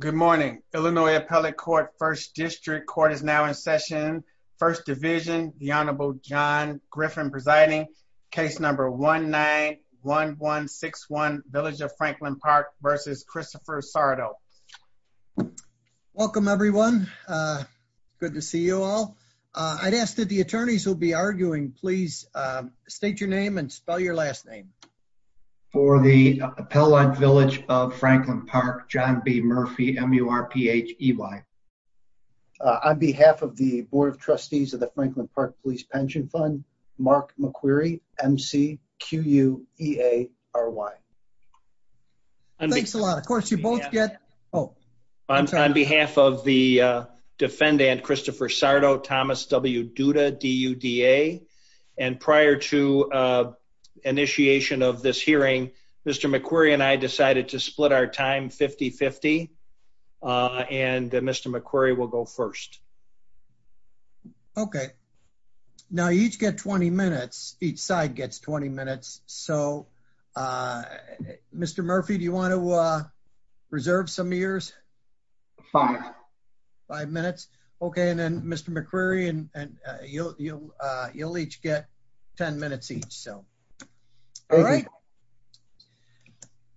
Good morning. Illinois Appellate Court First District Court is now in session. First Division, the Honorable John Griffin presiding. Case number 1-9-1-1-6-1 Village of Franklin Park versus Christopher Sarto. Welcome everyone. Good to see you all. I'd ask that the attorneys who'll be arguing please state your name and spell your last name. For the Appellate Village of Franklin Park, John B. Murphy, M-U-R-P-H-E-Y. On behalf of the Board of Trustees of the Franklin Park Police Pension Fund, Mark McQuarrie, M-C-Q-U-E-A-R-Y. Thanks a lot. Of course you both get... Oh. On behalf of the defendant, Christopher Sarto, Thomas W. Duda, D-U-D-A, and prior to initiation of this hearing, Mr. McQuarrie and I decided to split our time 50-50, and Mr. McQuarrie will go first. Okay. Now you each get 20 minutes. Each side gets 20 minutes. So Mr. Murphy, do you want to reserve some of yours? Five. Five minutes? Okay, and then Mr. McQuarrie, and you'll each get 10 minutes each. So, all right.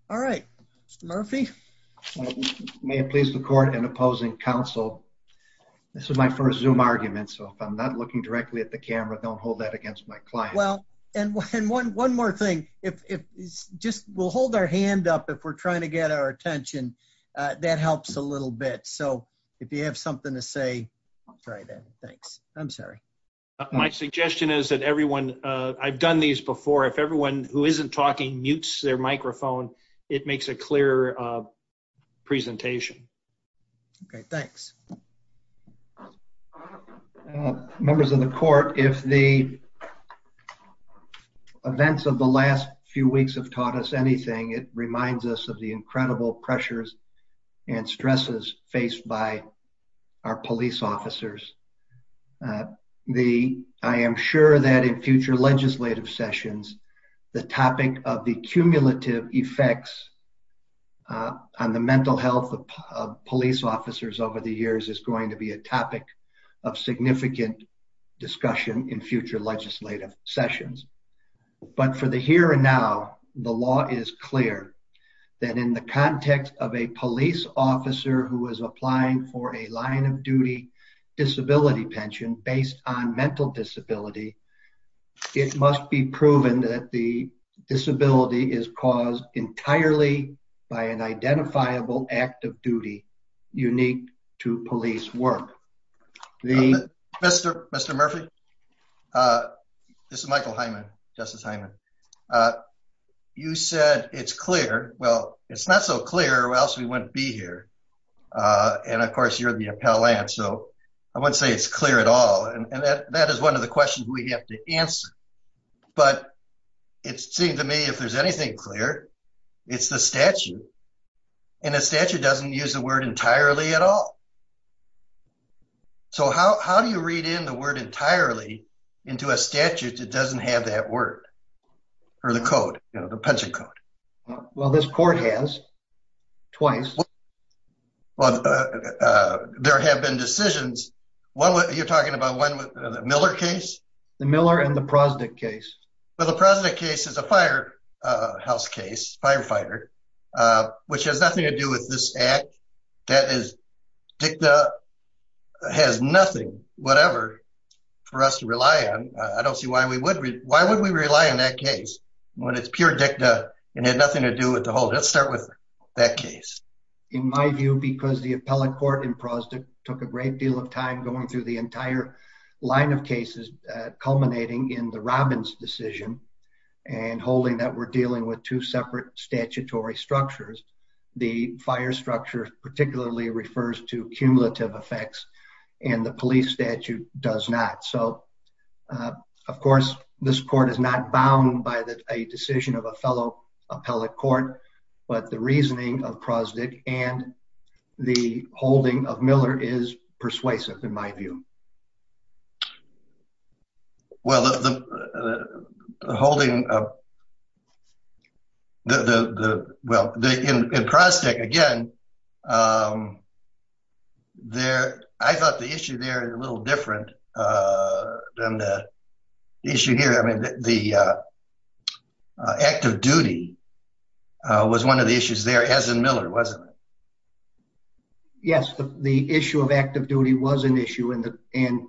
All right. Mr. Murphy? May it please the court, in opposing counsel, this is my first Zoom argument, so if I'm not looking directly at the camera, don't hold that against my client. Well, and one more thing, if just we'll hold our hand up if we're trying to get our attention, that helps a little bit. So if you have something to say, I'll try that. Thanks. I'm sorry. My suggestion is that everyone, I've done these before, if everyone who isn't talking mutes their microphone, it makes a clearer presentation. Okay, thanks. Members of the court, if the events of the last few weeks have taught us anything, it reminds us of the incredible pressures and stresses faced by our police officers. I am sure that in future legislative sessions, the topic of the cumulative effects on the mental health of police officers over the years is going to be a topic of significant discussion in future legislative sessions. But for the here and now, the law is clear that in the for a line-of-duty disability pension based on mental disability, it must be proven that the disability is caused entirely by an identifiable act of duty unique to police work. Mr. Murphy, this is Michael Hyman, Justice Hyman. You said it's clear. Well, it's not so clear or else we wouldn't be here, and of course you're the appellant, so I wouldn't say it's clear at all, and that that is one of the questions we have to answer. But it seemed to me if there's anything clear, it's the statute. And the statute doesn't use the word entirely at all. So how do you read in the word entirely into a statute that doesn't have that word, or the code, you know, the pension code? Well, this court has, twice. Well, there have been decisions. You're talking about one with the Miller case? The Miller and the Prosdick case. Well, the Prosdick case is a firehouse case, firefighter, which has nothing to do with this act. That is, DICTA has nothing, whatever, for us to rely on. I don't see why we would. Why would we rely on that case when it's pure DICTA and had nothing to do with the whole, let's start with that case. In my view, because the appellate court in Prosdick took a great deal of time going through the entire line of cases, culminating in the Robbins decision, and holding that we're dealing with two separate statutory structures, the fire structure particularly refers to cumulative effects, and the police statute does not. So, of course, this court is not bound by a decision of a fellow appellate court, but the reasoning of Prosdick and the holding of Miller is persuasive, in my view. Well, the holding of, well, in Prosdick, again, there, I thought the issue there is a little different than the issue here. I mean, the act of duty was one of the issues there, as in Miller, wasn't it? Yes, the issue of active duty was an issue, and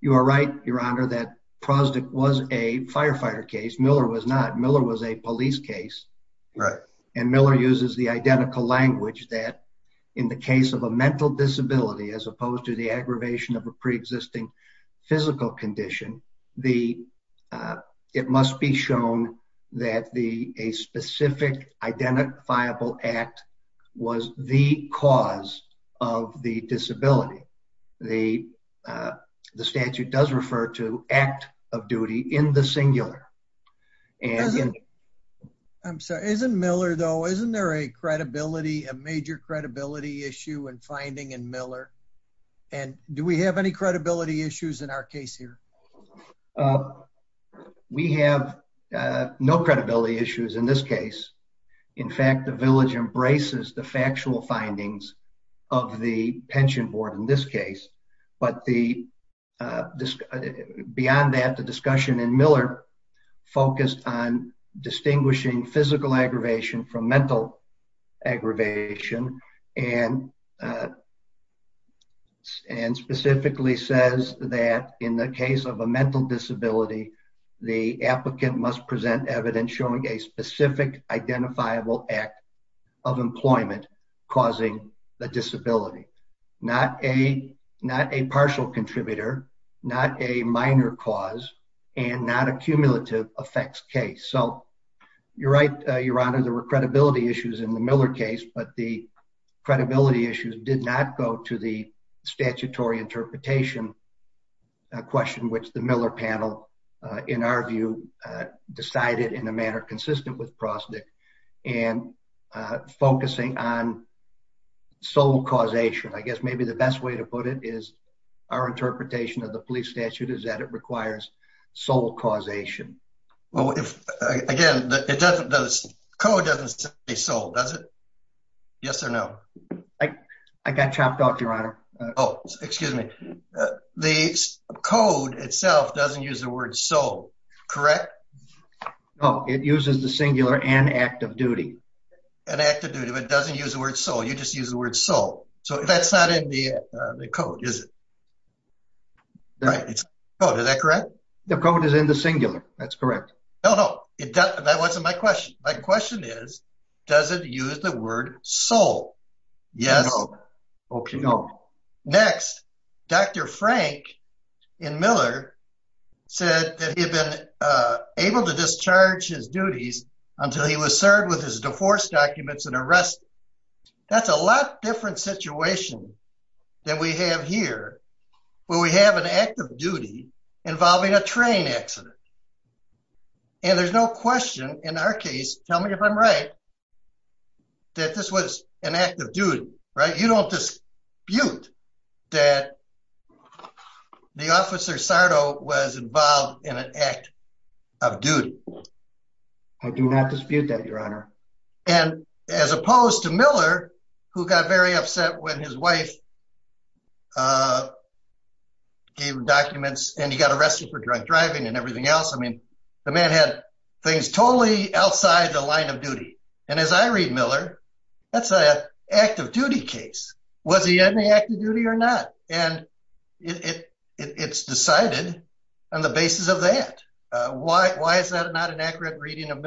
you are right, Your Honor, that Prosdick was a firefighter case. Miller was not. Miller was a police case. Right. And Miller uses the identical language that, in the case of a mental disability, as opposed to the aggravation of a pre-existing physical condition, it must be shown that a specific identifiable act was the cause of the disability. The statute does refer to act of duty in the singular. I'm sorry, isn't Miller, though, isn't there a credibility, a major credibility issue and finding in Miller, and do we have any credibility issues in our case here? We have no credibility issues in this case. In fact, the village embraces the factual findings of the pension board in this case, but beyond that, the discussion in Miller focused on distinguishing physical aggravation from In the case of a mental disability, the applicant must present evidence showing a specific identifiable act of employment causing the disability. Not a partial contributor, not a minor cause, and not a cumulative effects case. So you're right, Your Honor, there were credibility issues in the Miller case, but the credibility issues did not go to the statutory interpretation question, which the Miller panel, in our view, decided in a manner consistent with Prostick, and focusing on sole causation. I guess maybe the best way to put it is our interpretation of the police statute is that it requires sole causation. Well, again, the code doesn't say sole, does it? Yes or no? I got chopped off, Your Honor. Oh, excuse me. The code itself doesn't use the word sole, correct? No, it uses the singular and act of duty. An act of duty, but it doesn't use the word sole. You just use the word sole. So that's not in the code, is it? Is that correct? The code is in the singular. That's correct. No, no, that wasn't my question. My question is, does it use the word sole? Yes or no? Next, Dr. Frank in Miller said that he had been able to discharge his duties until he was served with his divorce documents and arrested. That's a lot different situation than we have here, where we have an act of duty involving a train accident. And there's no question in our case, tell me if I'm right, that this was an act of duty, right? You don't dispute that the officer Sardo was involved in an act of duty. I do not dispute that, Your Honor. And as opposed to Miller, who got very upset when his wife gave documents and he got arrested for drunk driving and everything else. I mean, the man had things totally outside the line of duty. And as I read Miller, that's an act of duty case. Was he in the act of duty or not? And it's decided on the basis of that. Why is that not an accurate reading of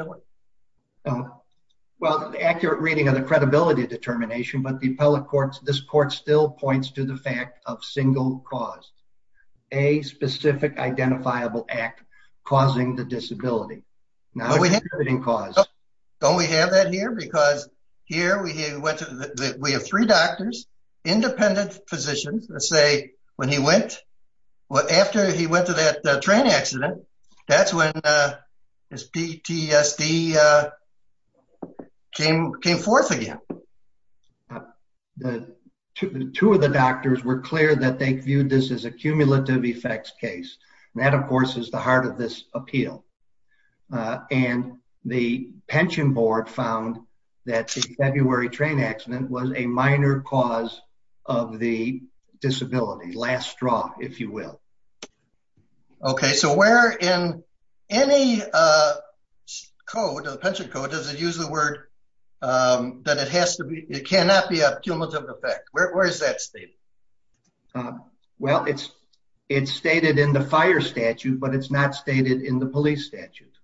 the credibility determination, but the appellate courts, this court still points to the fact of single cause, a specific identifiable act causing the disability. Now we have a cause. Don't we have that here? Because here we have three doctors, independent physicians, let's say, when he went, well, after he went to that train accident, that's when his PTSD came forth again. The two of the doctors were clear that they viewed this as a cumulative effects case. And that, of course, is the heart of this appeal. And the pension board found that the February train accident was a minor cause of the disability last draw, if you will. Okay, so where in any code or pension code, does it use the word that it has to be, it cannot be a cumulative effect? Where is that state? Well, it's, it's stated in the fire statute, but it's not stated in the police statute.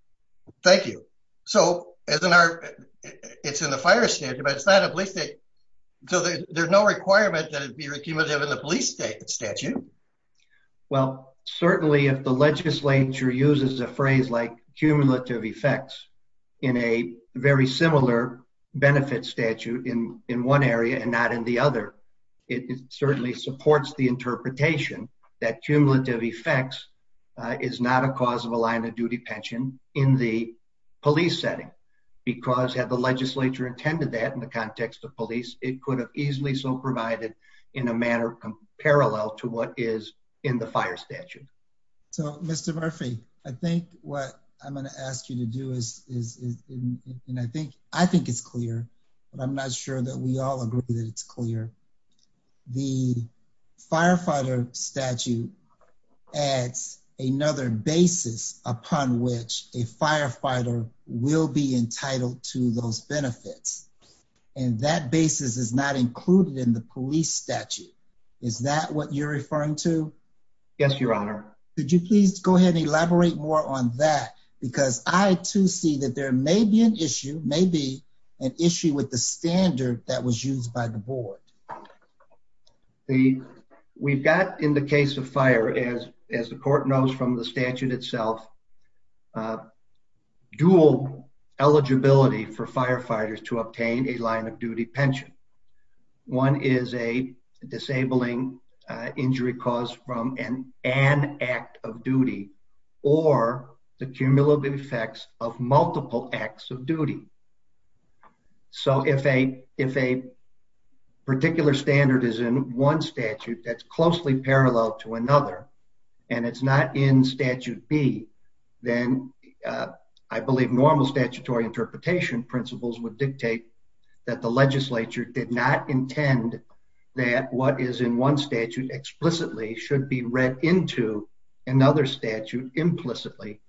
Thank you. So as an art, it's in the fire statute, but it's not a police state. So there's no requirement that it be cumulative in the police state statute. Well, certainly, if the legislature uses a phrase like cumulative effects, in a very similar benefit statute in in one area and not in the other, it certainly supports the interpretation that cumulative effects is not a cause of a line of duty pension in the police setting. Because had the legislature intended that in the context of police, it could have easily so provided in a manner of parallel to what is in the fire statute. So Mr Murphy, I think what I'm going to ask you to do is, I think, I think it's clear, but I'm not sure that we all agree that it's clear. The firefighter statute adds another basis upon which a firefighter will be entitled to those benefits, and that basis is not included in the police statute. Is that what you're referring to? Yes, Your Honor. Could you please go ahead and elaborate more on that? Because I too see that there may be an issue, maybe an issue with the standard that was used by the board. The we've got in the case of fire, as as the court knows from the statute itself, uh, dual eligibility for firefighters to obtain a line of duty pension. One is a disabling injury caused from an an act of duty or the cumulative effects of multiple acts of duty. So if a, if a particular standard is in one statute that's closely parallel to another, and it's not in statute B, then, uh, I believe normal statutory interpretation principles would dictate that the legislature did not intend that what is in one statute explicitly should be read into another statute implicitly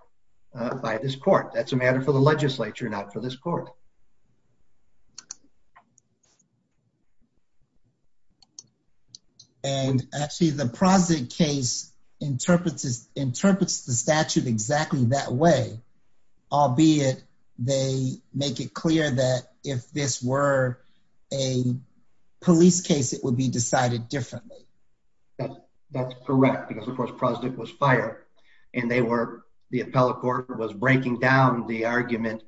by this court. That's a matter for the legislature, not for this court. And actually, the project case interprets is interprets the statute exactly that way. I'll be it. They make it clear that if this were a police case, it would be decided differently. That's correct. Because, of course, project was fire, and they were the appellate court was breaking down the argument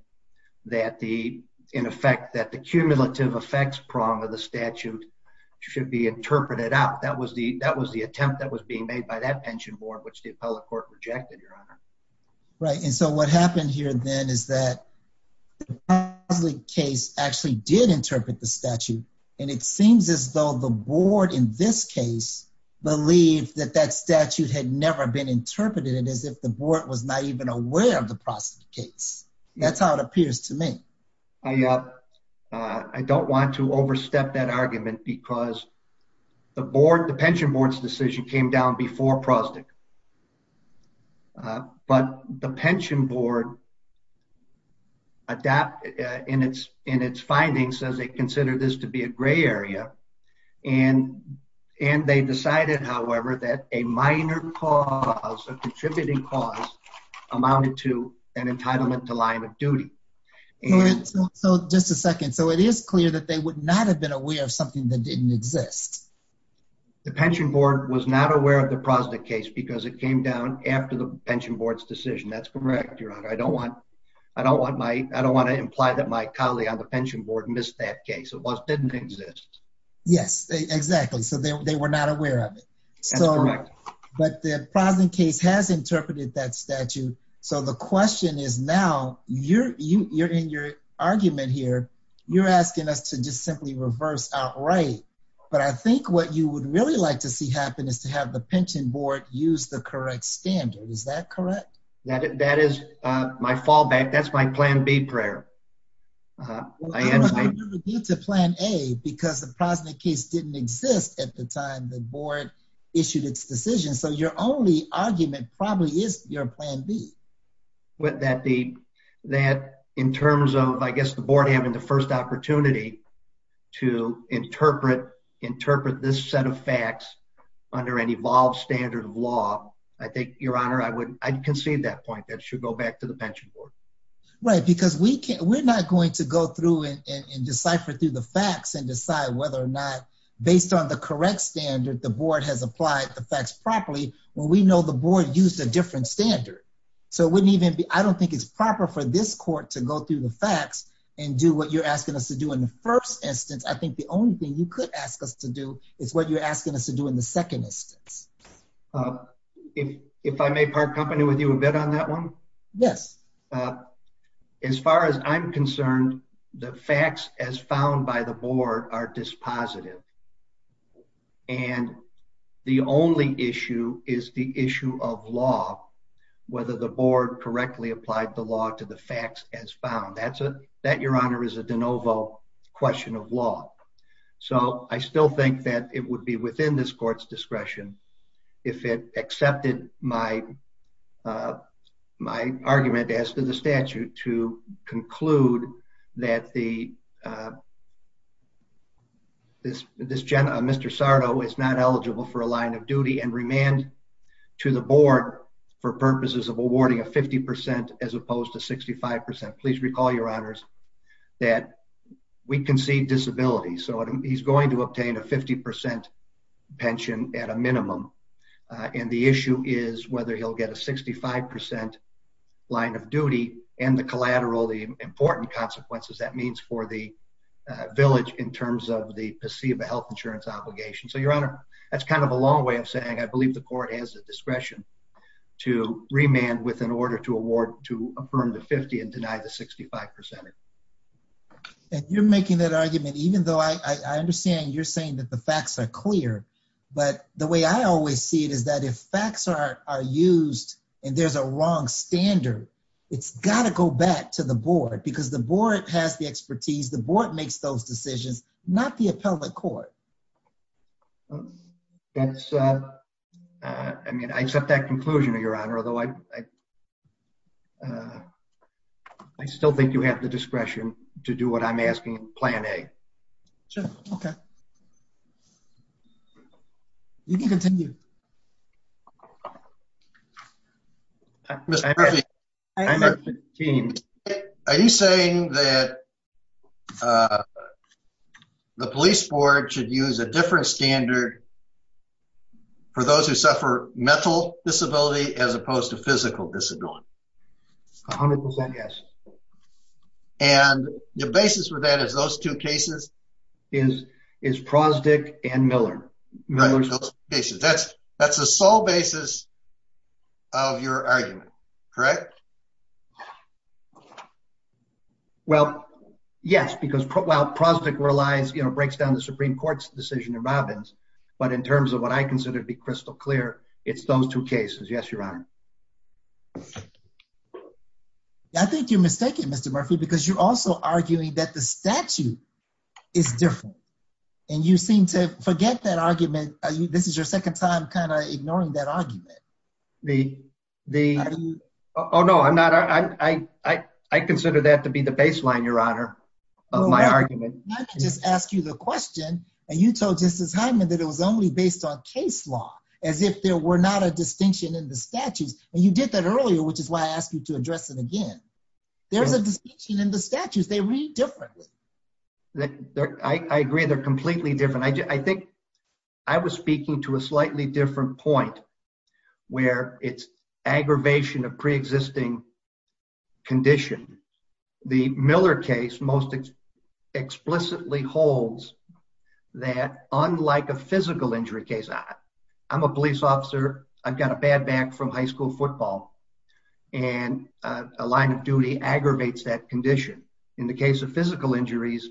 that the, uh, the statute in effect that the cumulative effects prong of the statute should be interpreted out. That was the that was the attempt that was being made by that pension board, which the appellate court rejected your honor. Right. And so what happened here then is that the case actually did interpret the statute, and it seems as though the board in this case believe that that statute had never been interpreted as if the board was not even aware of the process case. That's how it appears to I, uh, I don't want to overstep that argument because the board, the pension board's decision came down before prospect. But the pension board adapt in its in its findings as they consider this to be a gray area and and they decided, however, that a minor cause of contributing cause amounted to an entitlement to line of duty. So just a second. So it is clear that they would not have been aware of something that didn't exist. The pension board was not aware of the prospect case because it came down after the pension board's decision. That's correct, Your Honor. I don't want I don't want my I don't want to imply that my colleague on the pension board missed that case. It was didn't exist. Yes, exactly. So they were not aware of it. So but the case has interpreted that statute. So the question is now you're you're in your argument here. You're asking us to just simply reverse outright. But I think what you would really like to see happen is to have the pension board use the correct standard. Is that correct? That that is my fallback. That's my plan. Be prayer. Uh, I had to plan a because the positive case didn't exist at the time the board issued its decision. So you're only argument probably is your plan B with that deep that in terms of, I guess the board having the first opportunity to interpret, interpret this set of facts under an evolved standard of law. I think, Your Honor, I would concede that point. That should go back to the pension board, right? Because we can't. We're not going to go through and decipher through the facts and decide whether or not based on the rec standard, the board has applied the facts properly when we know the board used a different standard. So it wouldn't even be. I don't think it's proper for this court to go through the facts and do what you're asking us to do in the first instance. I think the only thing you could ask us to do is what you're asking us to do in the second instance. Uh, if if I may part company with you a bit on that one. Yes. Uh, as far as I'm concerned, the facts as found by the board are dispositive, and the only issue is the issue of law. Whether the board correctly applied the law to the facts as found. That's a that your honor is a de novo question of law. So I still think that it would be within this court's discretion if it accepted my, uh, my argument as to the statute to conclude that the uh, this this Jenna Mr Sarto is not eligible for a line of duty and remand to the board for purposes of awarding a 50% as opposed to 65%. Please recall your honors that we concede disability. So he's going to obtain a 50% pension at a minimum. Uh, and the issue is whether he'll get a 65% line of duty and the collateral. The important consequences that means for the village in terms of the placebo health insurance obligation. So, Your Honor, that's kind of a long way of saying I believe the court has the discretion to remand with an order to award to affirm the 50 and deny the 65%. And you're making that argument, even though I understand you're saying that the facts are clear. But the way I always see it is that if facts are used and there's a wrong standard, it's got to go back to the board because the board has the expertise. The board makes those decisions, not the appellate court. That's, uh, I mean, I accept that conclusion of your honor, although I, uh, I still think you have the discretion to do what I'm asking. Plan a. Sure. Okay. You can continue. Mr Murphy, I'm a team. Are you saying that, uh, the police board should use a different standard for those who suffer mental disability as opposed to physical disability? 100% Yes. And the basis for that is those two cases is is prosdick and Miller Miller. Basis. That's that's the sole basis of your argument, correct? Well, yes, because while prosdick relies, you know, breaks down the Supreme Court's decision in Robbins. But in terms of what I consider to be crystal clear, it's those two cases. Yes, your honor. I think you're mistaken, Mr Murphy, because you're also arguing that the this is your second time kind of ignoring that argument. The the Oh, no, I'm not. I I I consider that to be the baseline. Your honor of my argument. Let me just ask you the question. And you told Justice Hyman that it was only based on case law as if there were not a distinction in the statutes. And you did that earlier, which is why I asked you to address it again. There's a distinction in the statutes. They read differently. That I agree. They're completely different. I think I was speaking to a slightly different point where it's aggravation of pre existing condition. The Miller case most explicitly holds that, unlike a physical injury case, I'm a police officer. I've got a bad back from high school football and a line of duty aggravates that condition. In the case of physical injuries,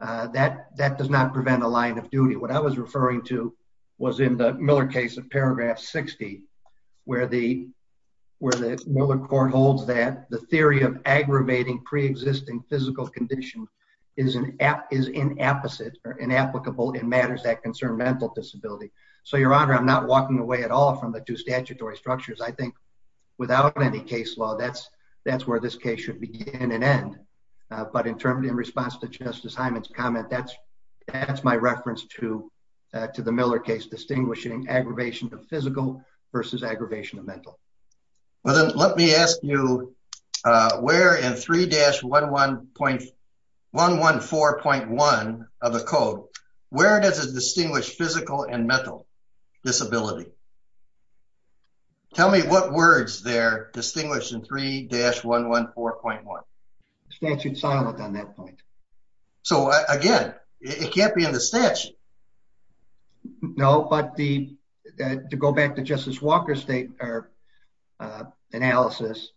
that that does not prevent a line of duty. What I was referring to was in the Miller case of paragraph 60, where the where the Miller court holds that the theory of aggravating pre existing physical condition is an app is in opposite or in applicable in matters that concern mental disability. So, your honor, I'm not walking away at all from the two statutory structures. I think without any case law, that's that's where this case should begin and end. But in terms of in response to Justice Simon's comment, that's that's my reference to to the Miller case, distinguishing aggravation of physical versus aggravation of mental. Well, then let me ask you where in 3-11.114.1 of the code, where does it distinguish physical and mental disability? Tell me what words they're distinguished in 3-11.114.1 statute silent on that point. So again, it can't be in the stitch. No, but the to go back to Justice Walker State are, uh, analysis.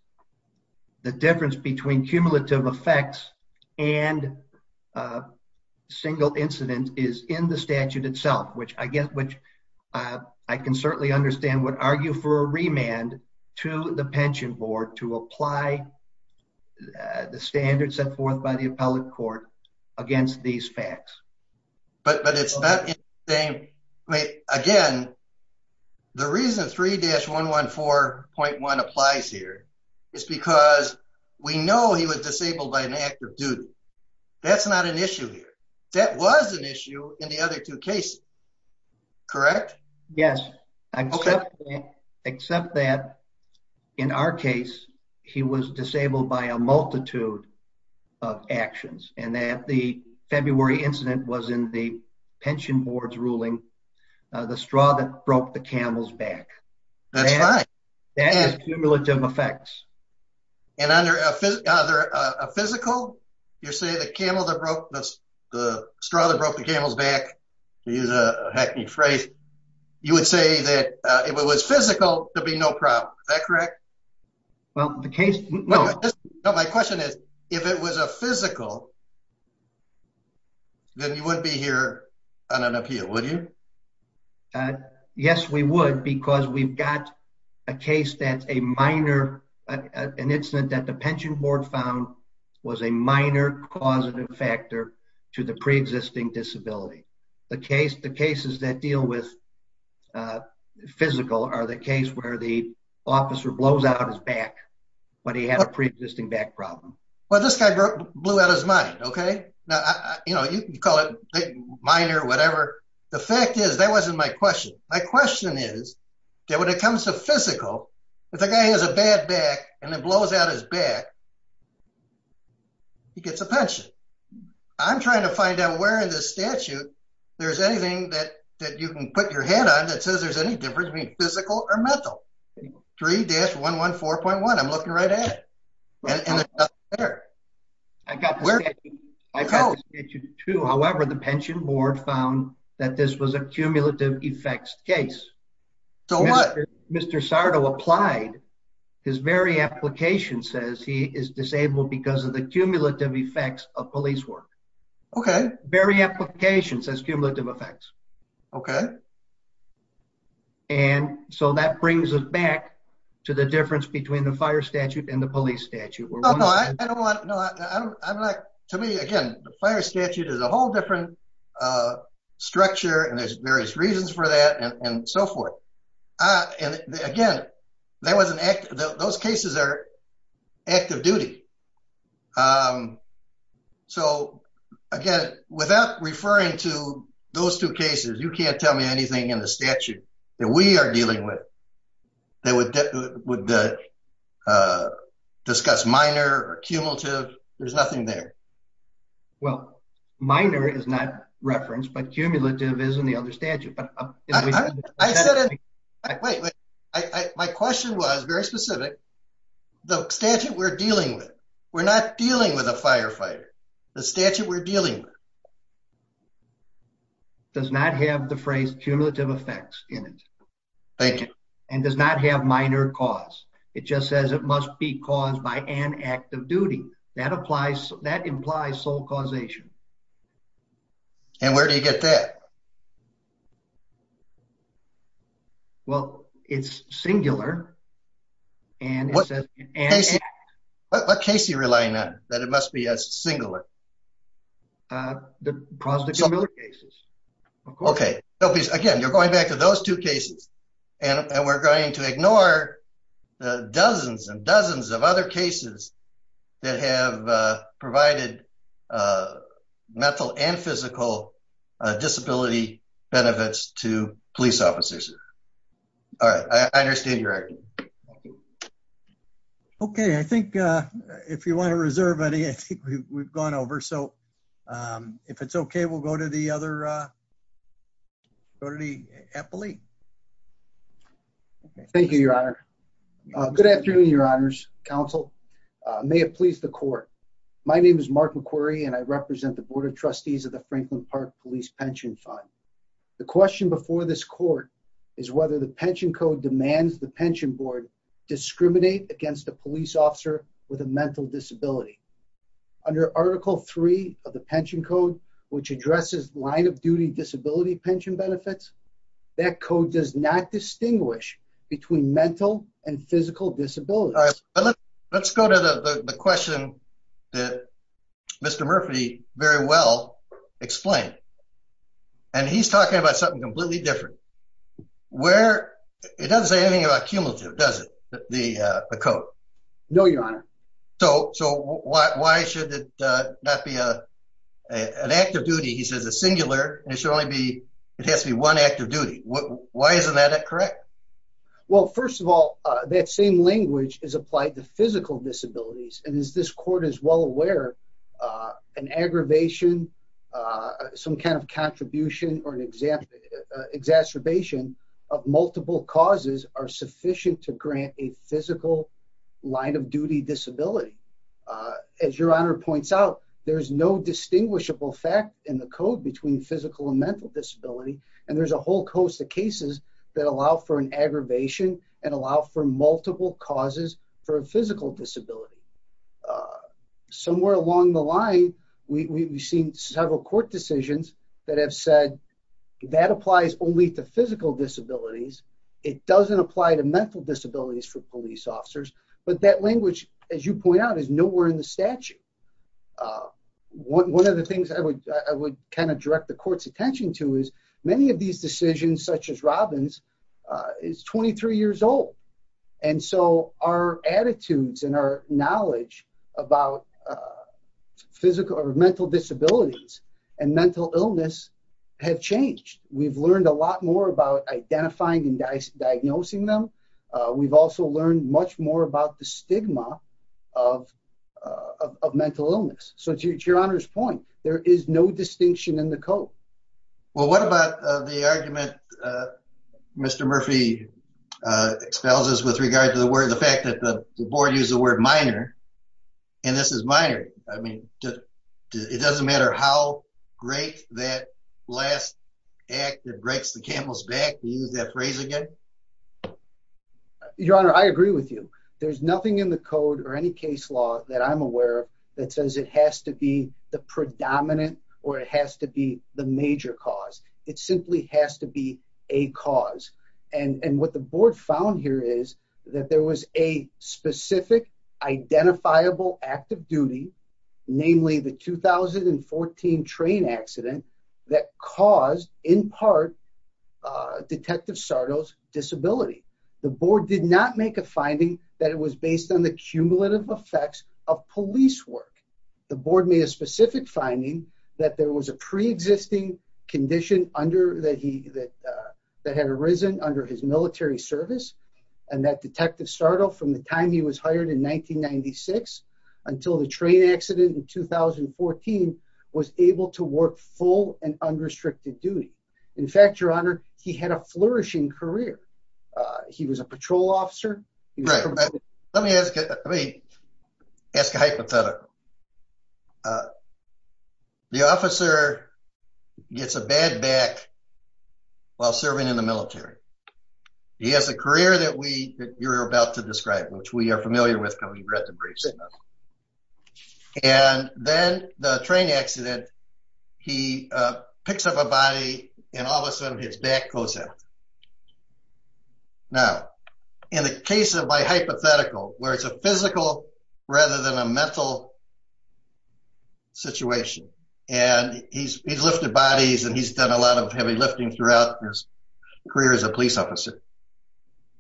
The difference between cumulative effects and, uh, single incident is in the I certainly understand would argue for a remand to the pension board to apply the standard set forth by the appellate court against these facts. But it's not the same way again. The reason 3-11.114.1 applies here is because we know he was disabled by an act of duty. That's not an issue here. That was an issue in the other two cases, correct? Yes, except that in our case, he was disabled by a multitude of actions and that the February incident was in the pension board's ruling. The straw that broke the camel's back. That's right. That is cumulative effects. And under a physical, you're broke the camel's back. He's a hackney phrase. You would say that if it was physical, there'll be no problem. Is that correct? Well, the case. No, my question is, if it was a physical, then you wouldn't be here on an appeal, would you? Uh, yes, we would because we've got a case that a minor, an incident that the guy had a pre-existing disability. The case, the cases that deal with, uh, physical are the case where the officer blows out his back, but he had a pre-existing back problem. Well, this guy blew out his mind. Okay. Now, you know, you can call it minor, whatever. The fact is that wasn't my question. My question is that when it comes to physical, if the guy has a bad back and it blows out his back, he gets a pension. I'm trying to find out where in this statute, there's anything that you can put your head on that says there's any difference between physical or mental. 3-114.1. I'm looking right at it. I got where I go to. However, the pension board found that this was a very application says he is disabled because of the cumulative effects of police work. Okay. Very application says cumulative effects. Okay. And so that brings us back to the difference between the fire statute and the police statute. To me again, the fire statute is a whole different, uh, structure and there's again, there was an act. Those cases are active duty. Um, so again, without referring to those two cases, you can't tell me anything in the statute that we are dealing with. They would, uh, discuss minor or cumulative. There's nothing there. Well, minor is not referenced, but cumulative is in the my question was very specific. The statute we're dealing with. We're not dealing with a firefighter. The statute we're dealing with does not have the phrase cumulative effects in it. Thank you. And does not have minor cause. It just says it must be caused by an active duty that applies. That implies sole causation. And where do you get that? Yeah. Well, it's singular. And what? And what case you relying on that? It must be a singular, uh, the prospective cases. Okay. Again, you're going back to those two cases and we're going to ignore the dozens and dozens of other cases that have provided, uh, mental and physical, uh, disability benefits to police officers. All right. I understand you're acting. Okay. I think, uh, if you want to reserve any, I think we've gone over. So, um, if it's okay, we'll go to the other, uh, go to the Eppley. Thank you, your honor. Good afternoon, your honors council. Uh, may it please the court. My name is Mark McQuarrie and I represent the board of trustees of the Franklin park police pension fund. The question before this court is whether the pension code demands the pension board discriminate against the police officer with a mental disability under article three of the pension code, which addresses line of duty disability pension benefits. That code does not distinguish between mental and physical disabilities. Let's go to the question that Mr. Murphy very well explained. And he's talking about something completely different where it doesn't say anything about cumulative, does it? The, uh, the code. No, your honor. So, so why, why should it not be a, an active duty? He says a singular and it should only be, it has to be one active duty. Why isn't that correct? Well, first of all, that same language is applied to physical disabilities. And as this court is well aware, uh, an aggravation, uh, some kind of contribution or an example, uh, exacerbation of multiple causes are sufficient to grant a physical line of duty disability. Uh, as your honor points out, there is no distinguishable fact in the code between physical and mental disability. And there's a whole coast of cases that allow for an disability. Uh, somewhere along the line, we, we, we've seen several court decisions that have said that applies only to physical disabilities. It doesn't apply to mental disabilities for police officers. But that language, as you point out, is nowhere in the statute. Uh, one, one of the things I would, I would kind of direct the court's attention to is many of these decisions such as Robbins, uh, is 23 years old. And so our attitudes and our knowledge about, uh, physical or mental disabilities and mental illness have changed. We've learned a lot more about identifying and diagnosing them. Uh, we've also learned much more about the stigma of, uh, of mental illness. So it's your honor's point. There is no distinction in the code. Well, what about the argument, uh, Mr. Murphy, uh, expels us with regard to the word, the fact that the board used the word minor and this is minor. I mean, it doesn't matter how great that last act that breaks the camel's back to use that phrase again. Your honor, I agree with you. There's nothing in the code or any case law that I'm aware of that says it has to be the predominant or it has to be the it simply has to be a cause. And what the board found here is that there was a specific identifiable active duty, namely the 2014 train accident that caused in part, uh, detective Sardo's disability. The board did not make a finding that it was based on the cumulative effects of police work. The was a pre existing condition under that he, that, uh, that had arisen under his military service and that detective start off from the time he was hired in 1996 until the train accident in 2014 was able to work full and unrestricted duty. In fact, your honor, he had a flourishing career. Uh, he was a patrol officer. Let me ask you, let me ask a hypothetical. Uh, the officer gets a bad back while serving in the military. He has a career that we, that you're about to describe, which we are familiar with. Can we read the briefs? And then the train accident, he picks up a body and all of a sudden his back goes out. Now, in the case of my hypothetical, where it's a physical rather than a mental situation and he's, he's lifted bodies and he's done a lot of heavy lifting throughout his career as a police officer.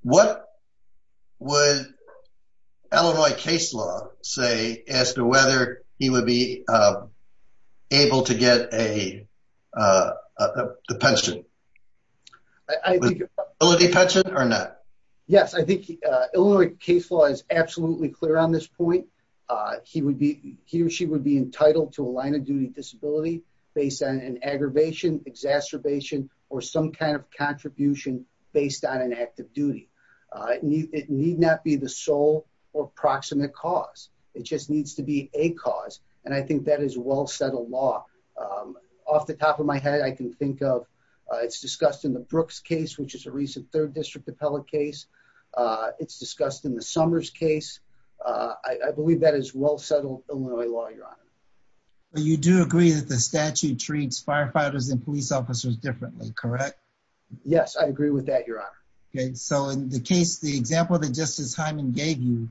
What would Illinois case law say as to whether he would be, uh, able to get a, uh, uh, the pension I think or not? Yes. I think Illinois case law is absolutely clear on this point. Uh, he would be, he or she would be entitled to a line of duty disability based on an aggravation, exacerbation, or some kind of contribution based on an active duty. Uh, it need not be the sole or cause. It just needs to be a cause. And I think that is well settled law. Um, off the top of my head, I can think of, uh, it's discussed in the Brooks case, which is a recent third district appellate case. Uh, it's discussed in the summers case. Uh, I, I believe that is well settled Illinois law. Your honor. Well, you do agree that the statute treats firefighters and police officers differently, correct? Yes, I agree with that. Your honor. Okay. So in the case, the example that justice Hyman gave you,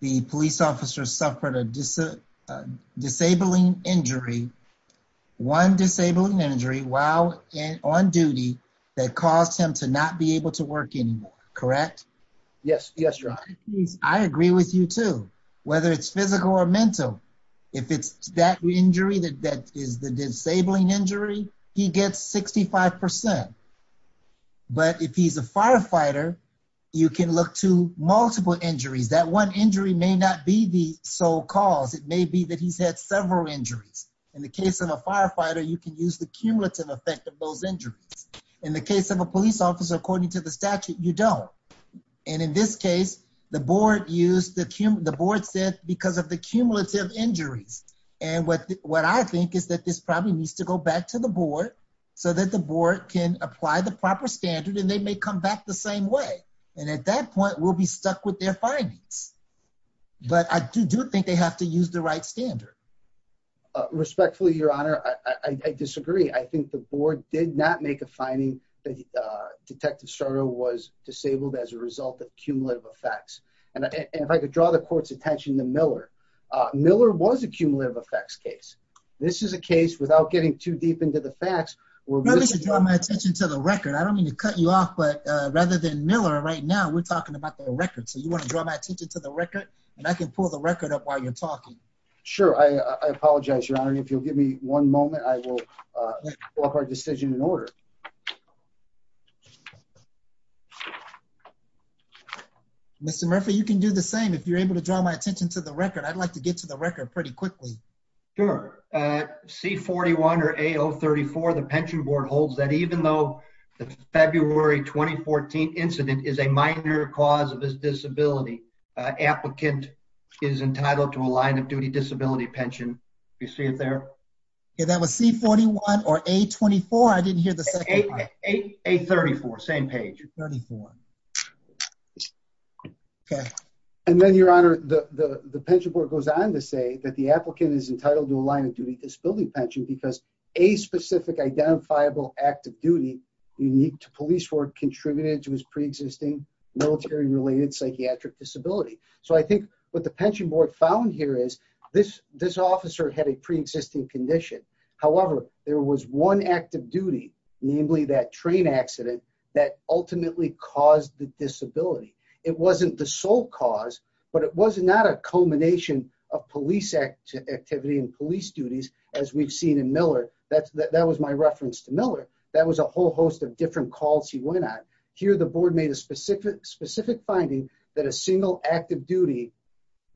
the police officer suffered a disability, a disabling injury, one disabling injury while on duty that caused him to not be able to work anymore. Correct? Yes. Yes. Your honor. Please. I agree with you too, whether it's physical or mental, if it's that injury that that is the disabling injury, he gets 65%. But if he's a firefighter, you can look to multiple injuries. That one injury may not be the sole cause. It may be that he's had several injuries. In the case of a firefighter, you can use the cumulative effect of those injuries. In the case of a police officer, according to the statute, you don't. And in this case, the board used the board said because of the cumulative injuries and what what I think is that this probably needs to go back to the board so that the board can apply the proper standard and they may come back the same way. And at that point, we'll be stuck with their findings. But I do do think they have to use the right standard. Respectfully, your honor, I disagree. I think the board did not make a finding that Detective Soto was disabled as a result of cumulative effects. And if I could draw the court's attention to Miller, Miller was a cumulative effects case. This is a case without getting too deep into the attention to the record. I don't mean to cut you off, but rather than Miller right now, we're talking about the record. So you want to draw my attention to the record, and I can pull the record up while you're talking. Sure. I apologize, Your Honor. If you'll give me one moment, I will, uh, walk our decision in order. Mr Murphy, you can do the same. If you're able to draw my attention to the record, I'd like to get to the record pretty quickly. Sure. Uh, C 41 or a 34. The pension board holds that even though the February 2014 incident is a minor cause of his disability, applicant is entitled to a line of duty disability pension. You see it there? That was C 41 or a 24. I didn't hear the A 34. Same page 34. Okay. And then, Your Honor, the pension board goes on to say that the applicant is entitled to a line of duty disability pension because a specific identifiable active duty unique to police work contributed to his pre existing military related psychiatric disability. So I think what the pension board found here is this. This officer had a pre existing condition. However, there was one active duty, namely that train accident that ultimately caused the disability. It wasn't the sole cause, but it was not a culmination of police activity and police duties. As we've seen in Miller, that that was my reference to Miller. That was a whole host of different calls. He went on here. The board made a specific specific finding that a single active duty,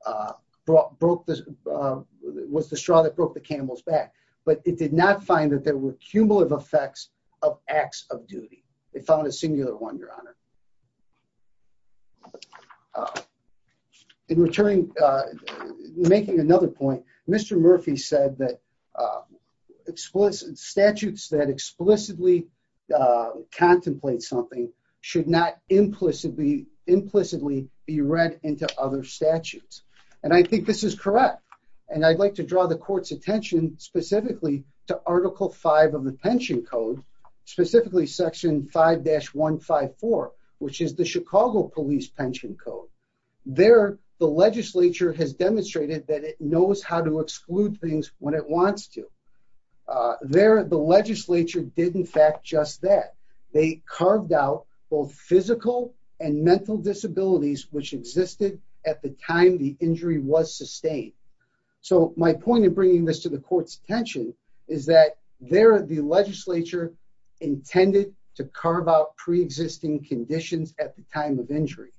uh, broke this was the straw that broke the Campbell's back. But it did not find that there were cumulative effects of acts of duty. They found a singular one, Your Honor. Uh, in returning, uh, making another point, Mr Murphy said that, uh, explicit statutes that explicitly, uh, contemplate something should not implicitly implicitly be read into other statutes. And I think this is correct. And I'd like to draw the court's attention specifically to Section 5-154, which is the Chicago Police Pension Code. There, the legislature has demonstrated that it knows how to exclude things when it wants to. Uh, there, the legislature did, in fact, just that they carved out both physical and mental disabilities which existed at the time the injury was sustained. So my point of bringing this to the court's there, the legislature intended to carve out pre existing conditions at the time of injury.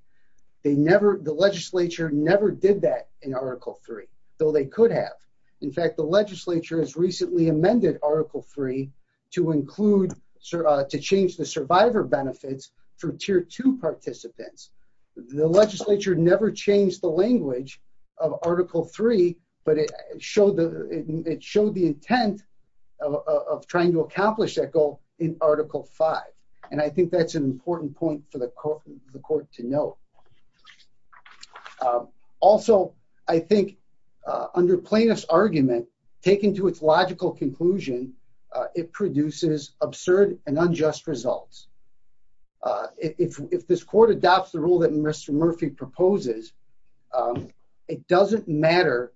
They never, the legislature never did that in Article three, though they could have. In fact, the legislature has recently amended Article three to include to change the survivor benefits for tier two participants. The legislature never changed the language of Article three, but it showed the it showed the intent of trying to accomplish that goal in Article five. And I think that's an important point for the court to know. Um, also, I think, uh, under plaintiff's argument, taken to its logical conclusion, it produces absurd and unjust results. Uh, if if this court adopts the rule that Mr Murphy proposes, um, it doesn't matter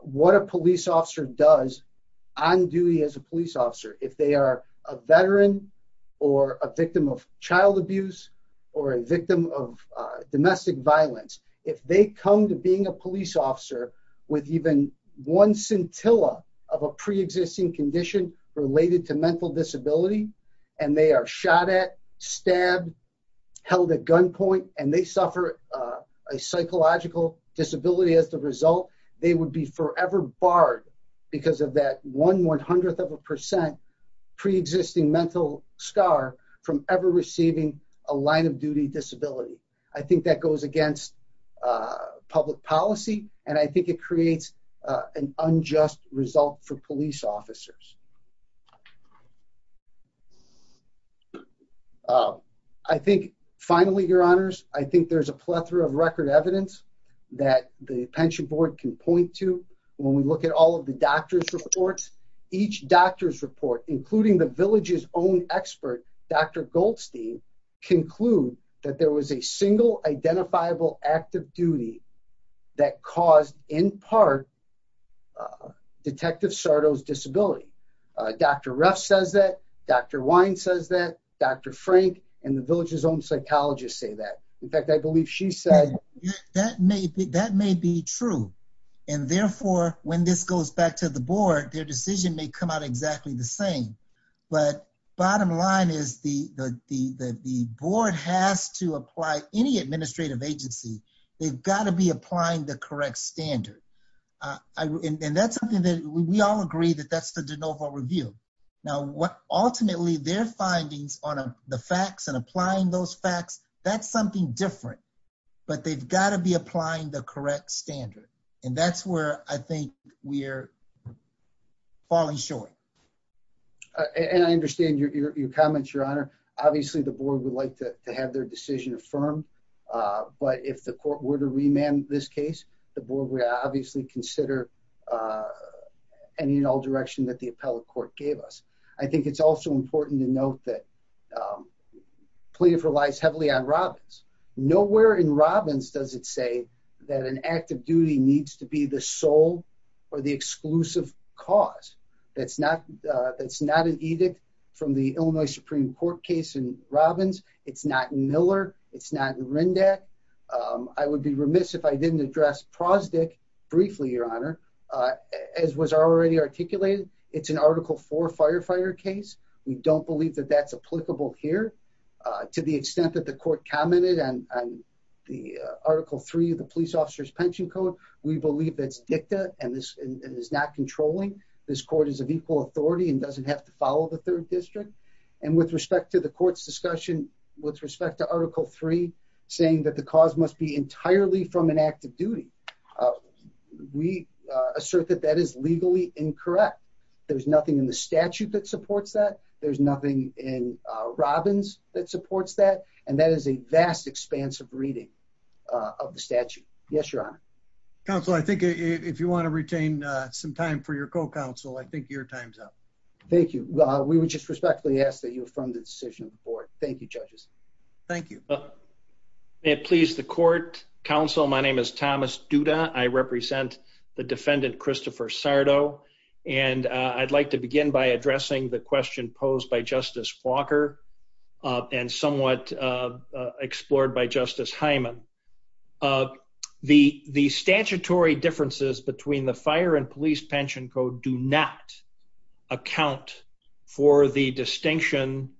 what a police officer does on duty as a police officer. If they are a veteran or a victim of child abuse or a victim of domestic violence, if they come to being a police officer with even one scintilla of a pre existing condition related to mental disability, and they are shot at, stabbed, held a gunpoint, and they suffer a psychological disability. As the result, they would be forever barred because of that one one hundredth of a percent pre existing mental scar from ever receiving a line of duty disability. I think that goes against public policy, and I think it creates an unjust result for police officers. Uh, I think finally, your honors, I think there's a plethora of record evidence that the pension board can point to. When we look at all of the doctor's reports, each doctor's report, including the village's own expert, Dr Goldstein, conclude that there was a single identifiable active duty that caused in part Detective Sardo's disability. Dr Ruff says that Dr Wine says that Dr Frank and the village's own psychologist say that. In fact, I believe she said that may be that may be true, and therefore, when this goes back to the board, their decision may come out exactly the same. But bottom line is the board has to be applying the correct standard, and that's something that we all agree that that's the de novo review. Now, what? Ultimately, their findings on the facts and applying those facts. That's something different, but they've got to be applying the correct standard, and that's where I think we're falling short. And I understand your comments, Your Honor. Obviously, the board would like to have their decision affirmed. But if the court were to remand this case, the board would obviously consider, uh, any and all direction that the appellate court gave us. I think it's also important to note that, um, pleaded for lies heavily on Robins. Nowhere in Robins does it say that an active duty needs to be the soul or the exclusive cause. That's not. That's not an edict from the Illinois Supreme Court case in Robins. It's not Miller. It's not Rindac. I would be remiss if I didn't address prosdick briefly, Your Honor, as was already articulated. It's an Article four firefighter case. We don't believe that that's applicable here to the extent that the court commented on the Article three of the police officer's pension code. We believe that's dicta, and this is not controlling. This court is of equal authority and doesn't have to follow the third district. And with respect to the court's discussion with respect to Article three, saying that the cause must be entirely from an active duty, we assert that that is legally incorrect. There's nothing in the statute that supports that. There's nothing in Robins that supports that, and that is a vast, expansive reading of the statute. Yes, Your Honor. Counsel, I think if you want to retain some time for your co counsel, I think your time's up. Thank you. We would just respectfully ask that you affirm the decision for it. Thank you, judges. Thank you. It pleased the court council. My name is Thomas Duda. I represent the defendant, Christopher Sardo, and I'd like to begin by addressing the question posed by Justice Walker on somewhat explored by Justice Hyman. The statutory differences between the Fire and Police Pension Code do not account for the distinction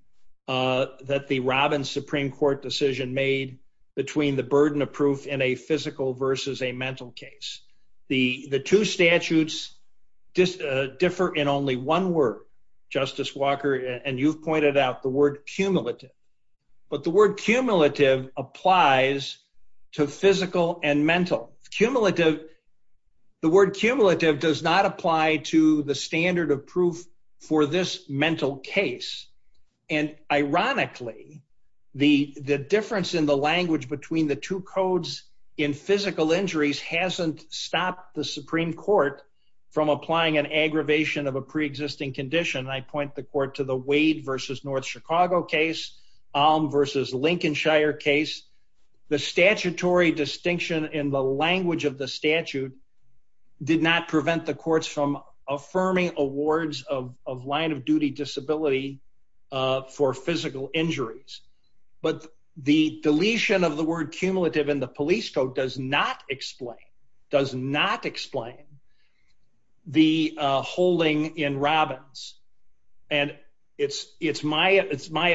that the Robins Supreme Court decision made between the burden of proof in a physical versus a mental case. The two statutes differ in only one word, Justice Walker, and you've pointed out the word cumulative. But the word cumulative applies to physical and mental. Cumulative... The word cumulative does not apply to the standard of proof for this mental case. And ironically, the difference in the language between the two codes in physical injuries hasn't stopped the Supreme Court from applying an aggravation of a pre existing condition. And I point the court to the Wade versus North Chicago case, Alm versus Lincolnshire case. The statutory distinction in the language of the statute did not prevent the courts from affirming awards of line of duty disability for physical injuries. But the deletion of the word cumulative in the police code does not explain, does not explain the holding in Robins. And it's my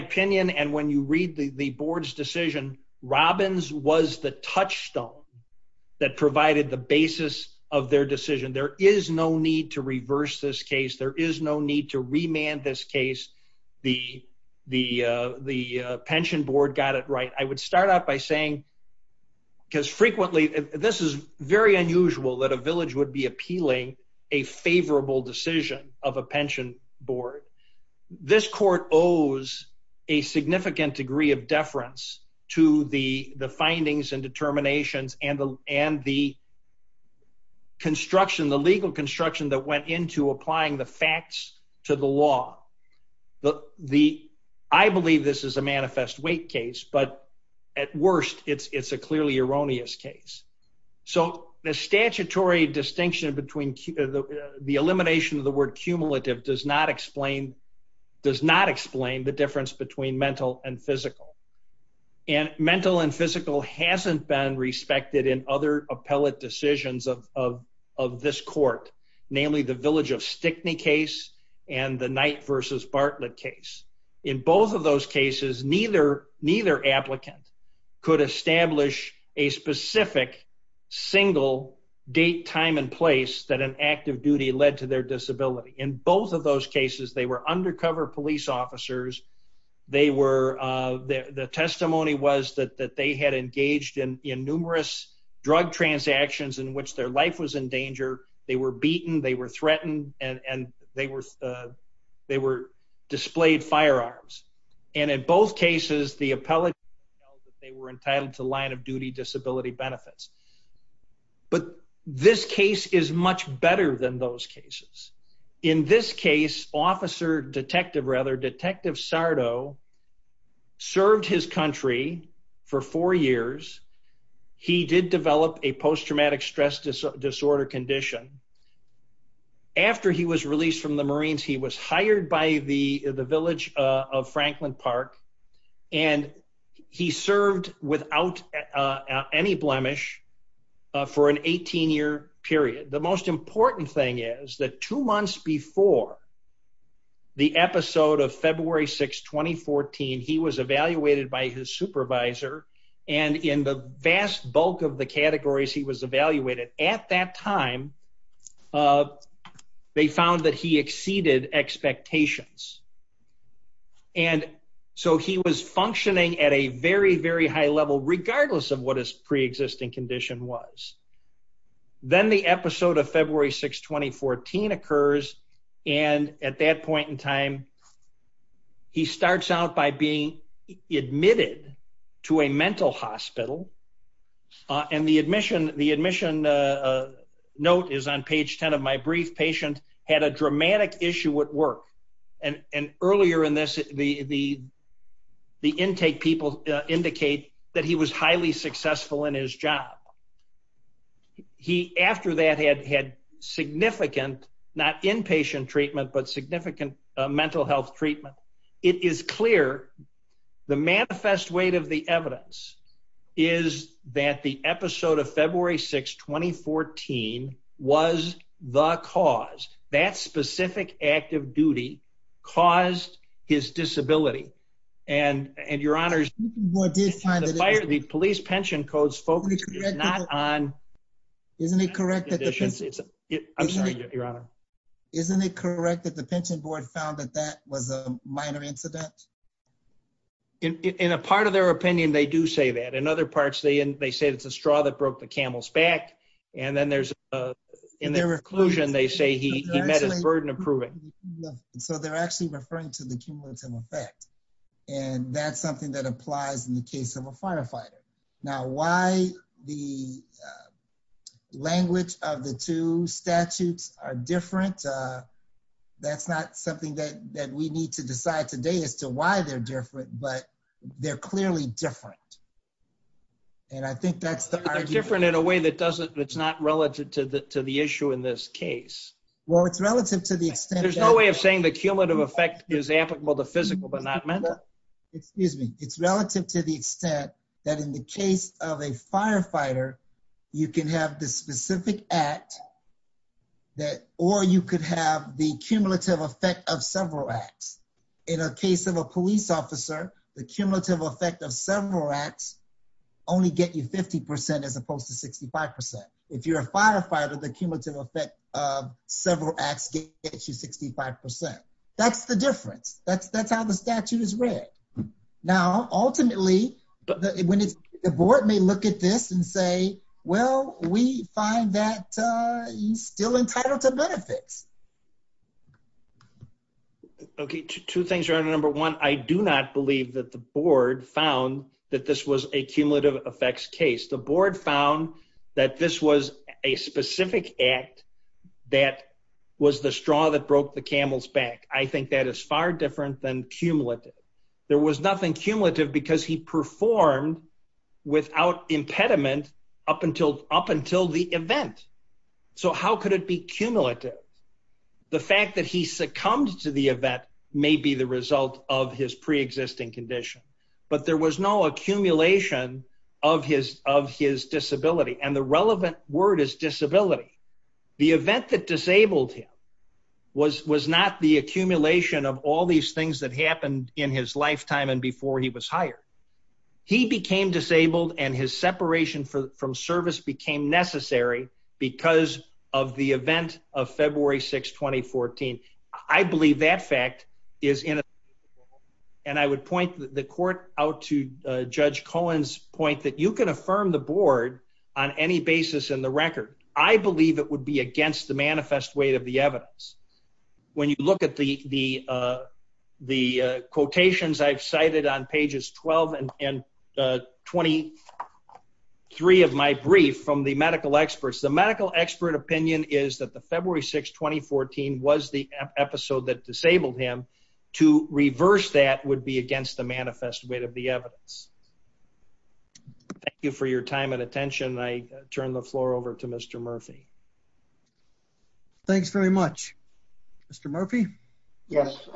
opinion, and when you read the board's decision, Robins was the touchstone that provided the basis of their decision. There is no need to reverse this case. There is no need to remand this case. The pension board got it right. I would start out by saying... Because frequently, this is very unusual that a village would be appealing a favorable decision of a pension board. This court owes a significant degree of deference to the findings and determinations and the construction, the legal construction that went into applying the facts to the law. I believe this is a manifest weight case, but at worst, it's a clearly erroneous case. So the statutory distinction between the elimination of the word cumulative does not explain... Does not explain the difference between mental and physical. And mental and physical hasn't been respected in other appellate decisions of this court, namely the village of Stickney case and the Knight versus Bartlett case. In both of those cases, neither applicant could establish a specific single date, time and place that an act of duty led to their disability. In both of those cases, they were undercover police officers. The testimony was that they had engaged in numerous drug transactions in which their life was in danger. They were beaten, they were threatened, and they were displayed firearms. And in both cases, the appellate... They were entitled to line of duty disability benefits. But this case is much better than those cases. In this case, officer... Detective, rather, Detective Sardo served his country for four years. He did develop a post traumatic stress disorder condition. And after he was released from the Marines, he was hired by the village of Franklin Park, and he served without any blemish for an 18 year period. The most important thing is that two months before the episode of February 6th, 2014, he was evaluated by his supervisor, and in the vast bulk of the categories, he was evaluated. At that time, they found that he exceeded expectations. And so he was functioning at a very, very high level, regardless of what his pre existing condition was. Then the episode of February 6th, 2014 occurs, and at that point in time, he starts out by being admitted to a mental hospital, and the admission note is on page 10 of my brief, patient had a dramatic issue at work. And earlier in this, the intake people indicate that he was highly successful in his job. He, after that, had significant, not inpatient treatment, but significant mental health treatment. It is clear, the manifest weight of the evidence is that the episode of February 6th, 2014, was the cause. That specific act of duty caused his disability. And your honors, the police pension codes focus not on... Isn't it correct that the... I'm sorry, your honor. Isn't it correct that the pension board found that that was a minor incident? In a part of their opinion, they do say that. In other parts, they say it's a straw that broke the camel's back, and then there's... In their conclusion, they say he met his burden of proving. So they're actually referring to the cumulative effect, and that's something that applies in the case of a firefighter. Now, why the different? That's something that we need to decide today as to why they're different, but they're clearly different. And I think that's the argument. But they're different in a way that doesn't... That's not relative to the issue in this case. Well, it's relative to the extent that... There's no way of saying the cumulative effect is applicable to physical, but not mental? Excuse me. It's relative to the extent that in the case of a firefighter, you can have the specific act that... Or you could have the cumulative effect of several acts. In a case of a police officer, the cumulative effect of several acts only get you 50% as opposed to 65%. If you're a firefighter, the cumulative effect of several acts gets you 65%. That's the difference. That's how the statute is read. Now, ultimately, when it's... The board may look at this and say, well, we find that you're still entitled to benefits. Okay, two things here. Number one, I do not believe that the board found that this was a cumulative effects case. The board found that this was a specific act that was the straw that broke the camel's back. I think that is far different than cumulative. There was nothing cumulative because he performed without impediment up until the event. So how could it be cumulative? The fact that he succumbed to the event may be the result of his pre existing condition, but there was no accumulation of his disability. And the relevant word is disability. The event that disabled him was not the accumulation of all these things that happened in his lifetime and before he was hired. He became disabled and his separation from service became necessary because of the event of February 6th, 2014. I believe that fact is inescapable and I would point the court out to Judge Cohen's point that you can affirm the board on any basis in the record. I believe it would be against the manifest weight of the evidence. When you look at the quotations I've cited on pages 12 and 23 of my brief from the medical experts, the medical expert opinion is that the February 6th, 2014 was the episode that disabled him. To reverse that would be against the manifest weight of the evidence. Thank you for your time and attention. I turn the floor over to Mr. Murphy. Thanks very much. Mr. Murphy? Yes.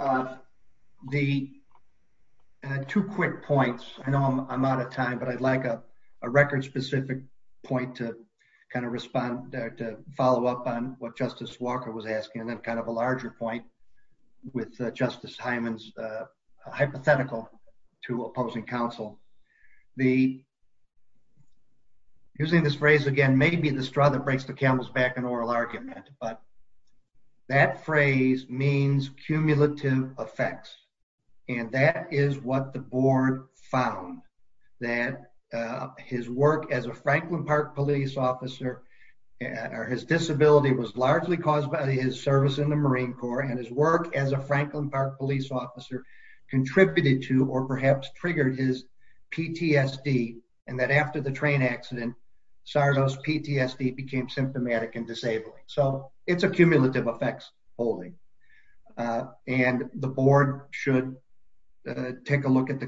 Two quick points. I know I'm out of time, but I'd like a record specific point to respond or to follow up on what Justice Walker was asking and then a larger point with Justice Hyman's hypothetical to opposing counsel. Using this phrase again, maybe the straw that breaks the camel's back in oral argument, but that phrase means cumulative effects. And that is what the board found that his work as a Franklin Park police officer or his disability was largely caused by his service in the Marine Corps and his work as a Franklin Park police officer contributed to or perhaps triggered his PTSD. And that after the train accident, Sardo's PTSD became symptomatic and disabling. So it's a cumulative effects holding. And the board should take a look at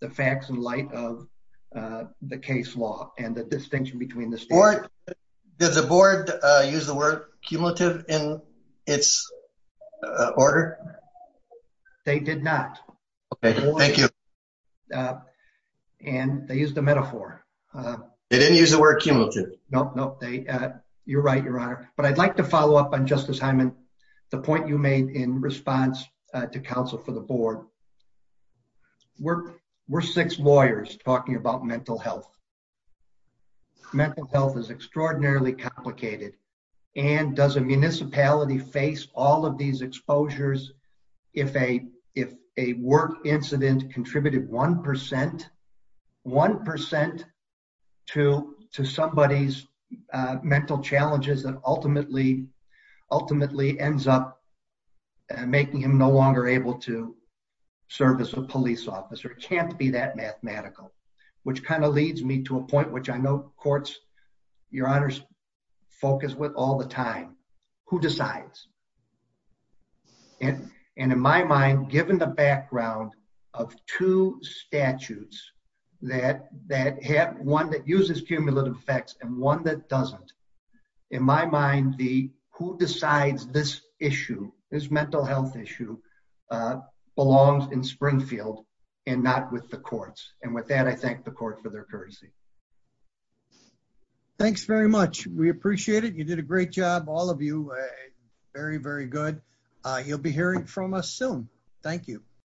the facts in light of the case law and the distinction between the state. Does the board use the word cumulative in its order? They did not. Okay, thank you. Uh, and they used a metaphor. They didn't use the word cumulative. Nope. Nope. They, uh, you're right, Your Honor. But I'd like to follow up on Justice Hyman. The point you made in response to counsel for the board. We're we're six lawyers talking about mental health. Mental health is extraordinarily complicated. And does a municipality face all of these exposures? If a if a work incident contributed 1% 1% to somebody's mental challenges that ultimately ultimately ends up making him no longer able to serve as a police officer can't be that to a point which I know courts, Your Honor's focus with all the time who decides and in my mind, given the background of two statutes that that have one that uses cumulative effects and one that doesn't in my mind, the who decides this issue is mental health issue, uh, belongs in Springfield and not with the courts. And with that, I thank the court for their courtesy. Thanks very much. We appreciate it. You did a great job. All of you very, very good. You'll be hearing from us soon. Thank you.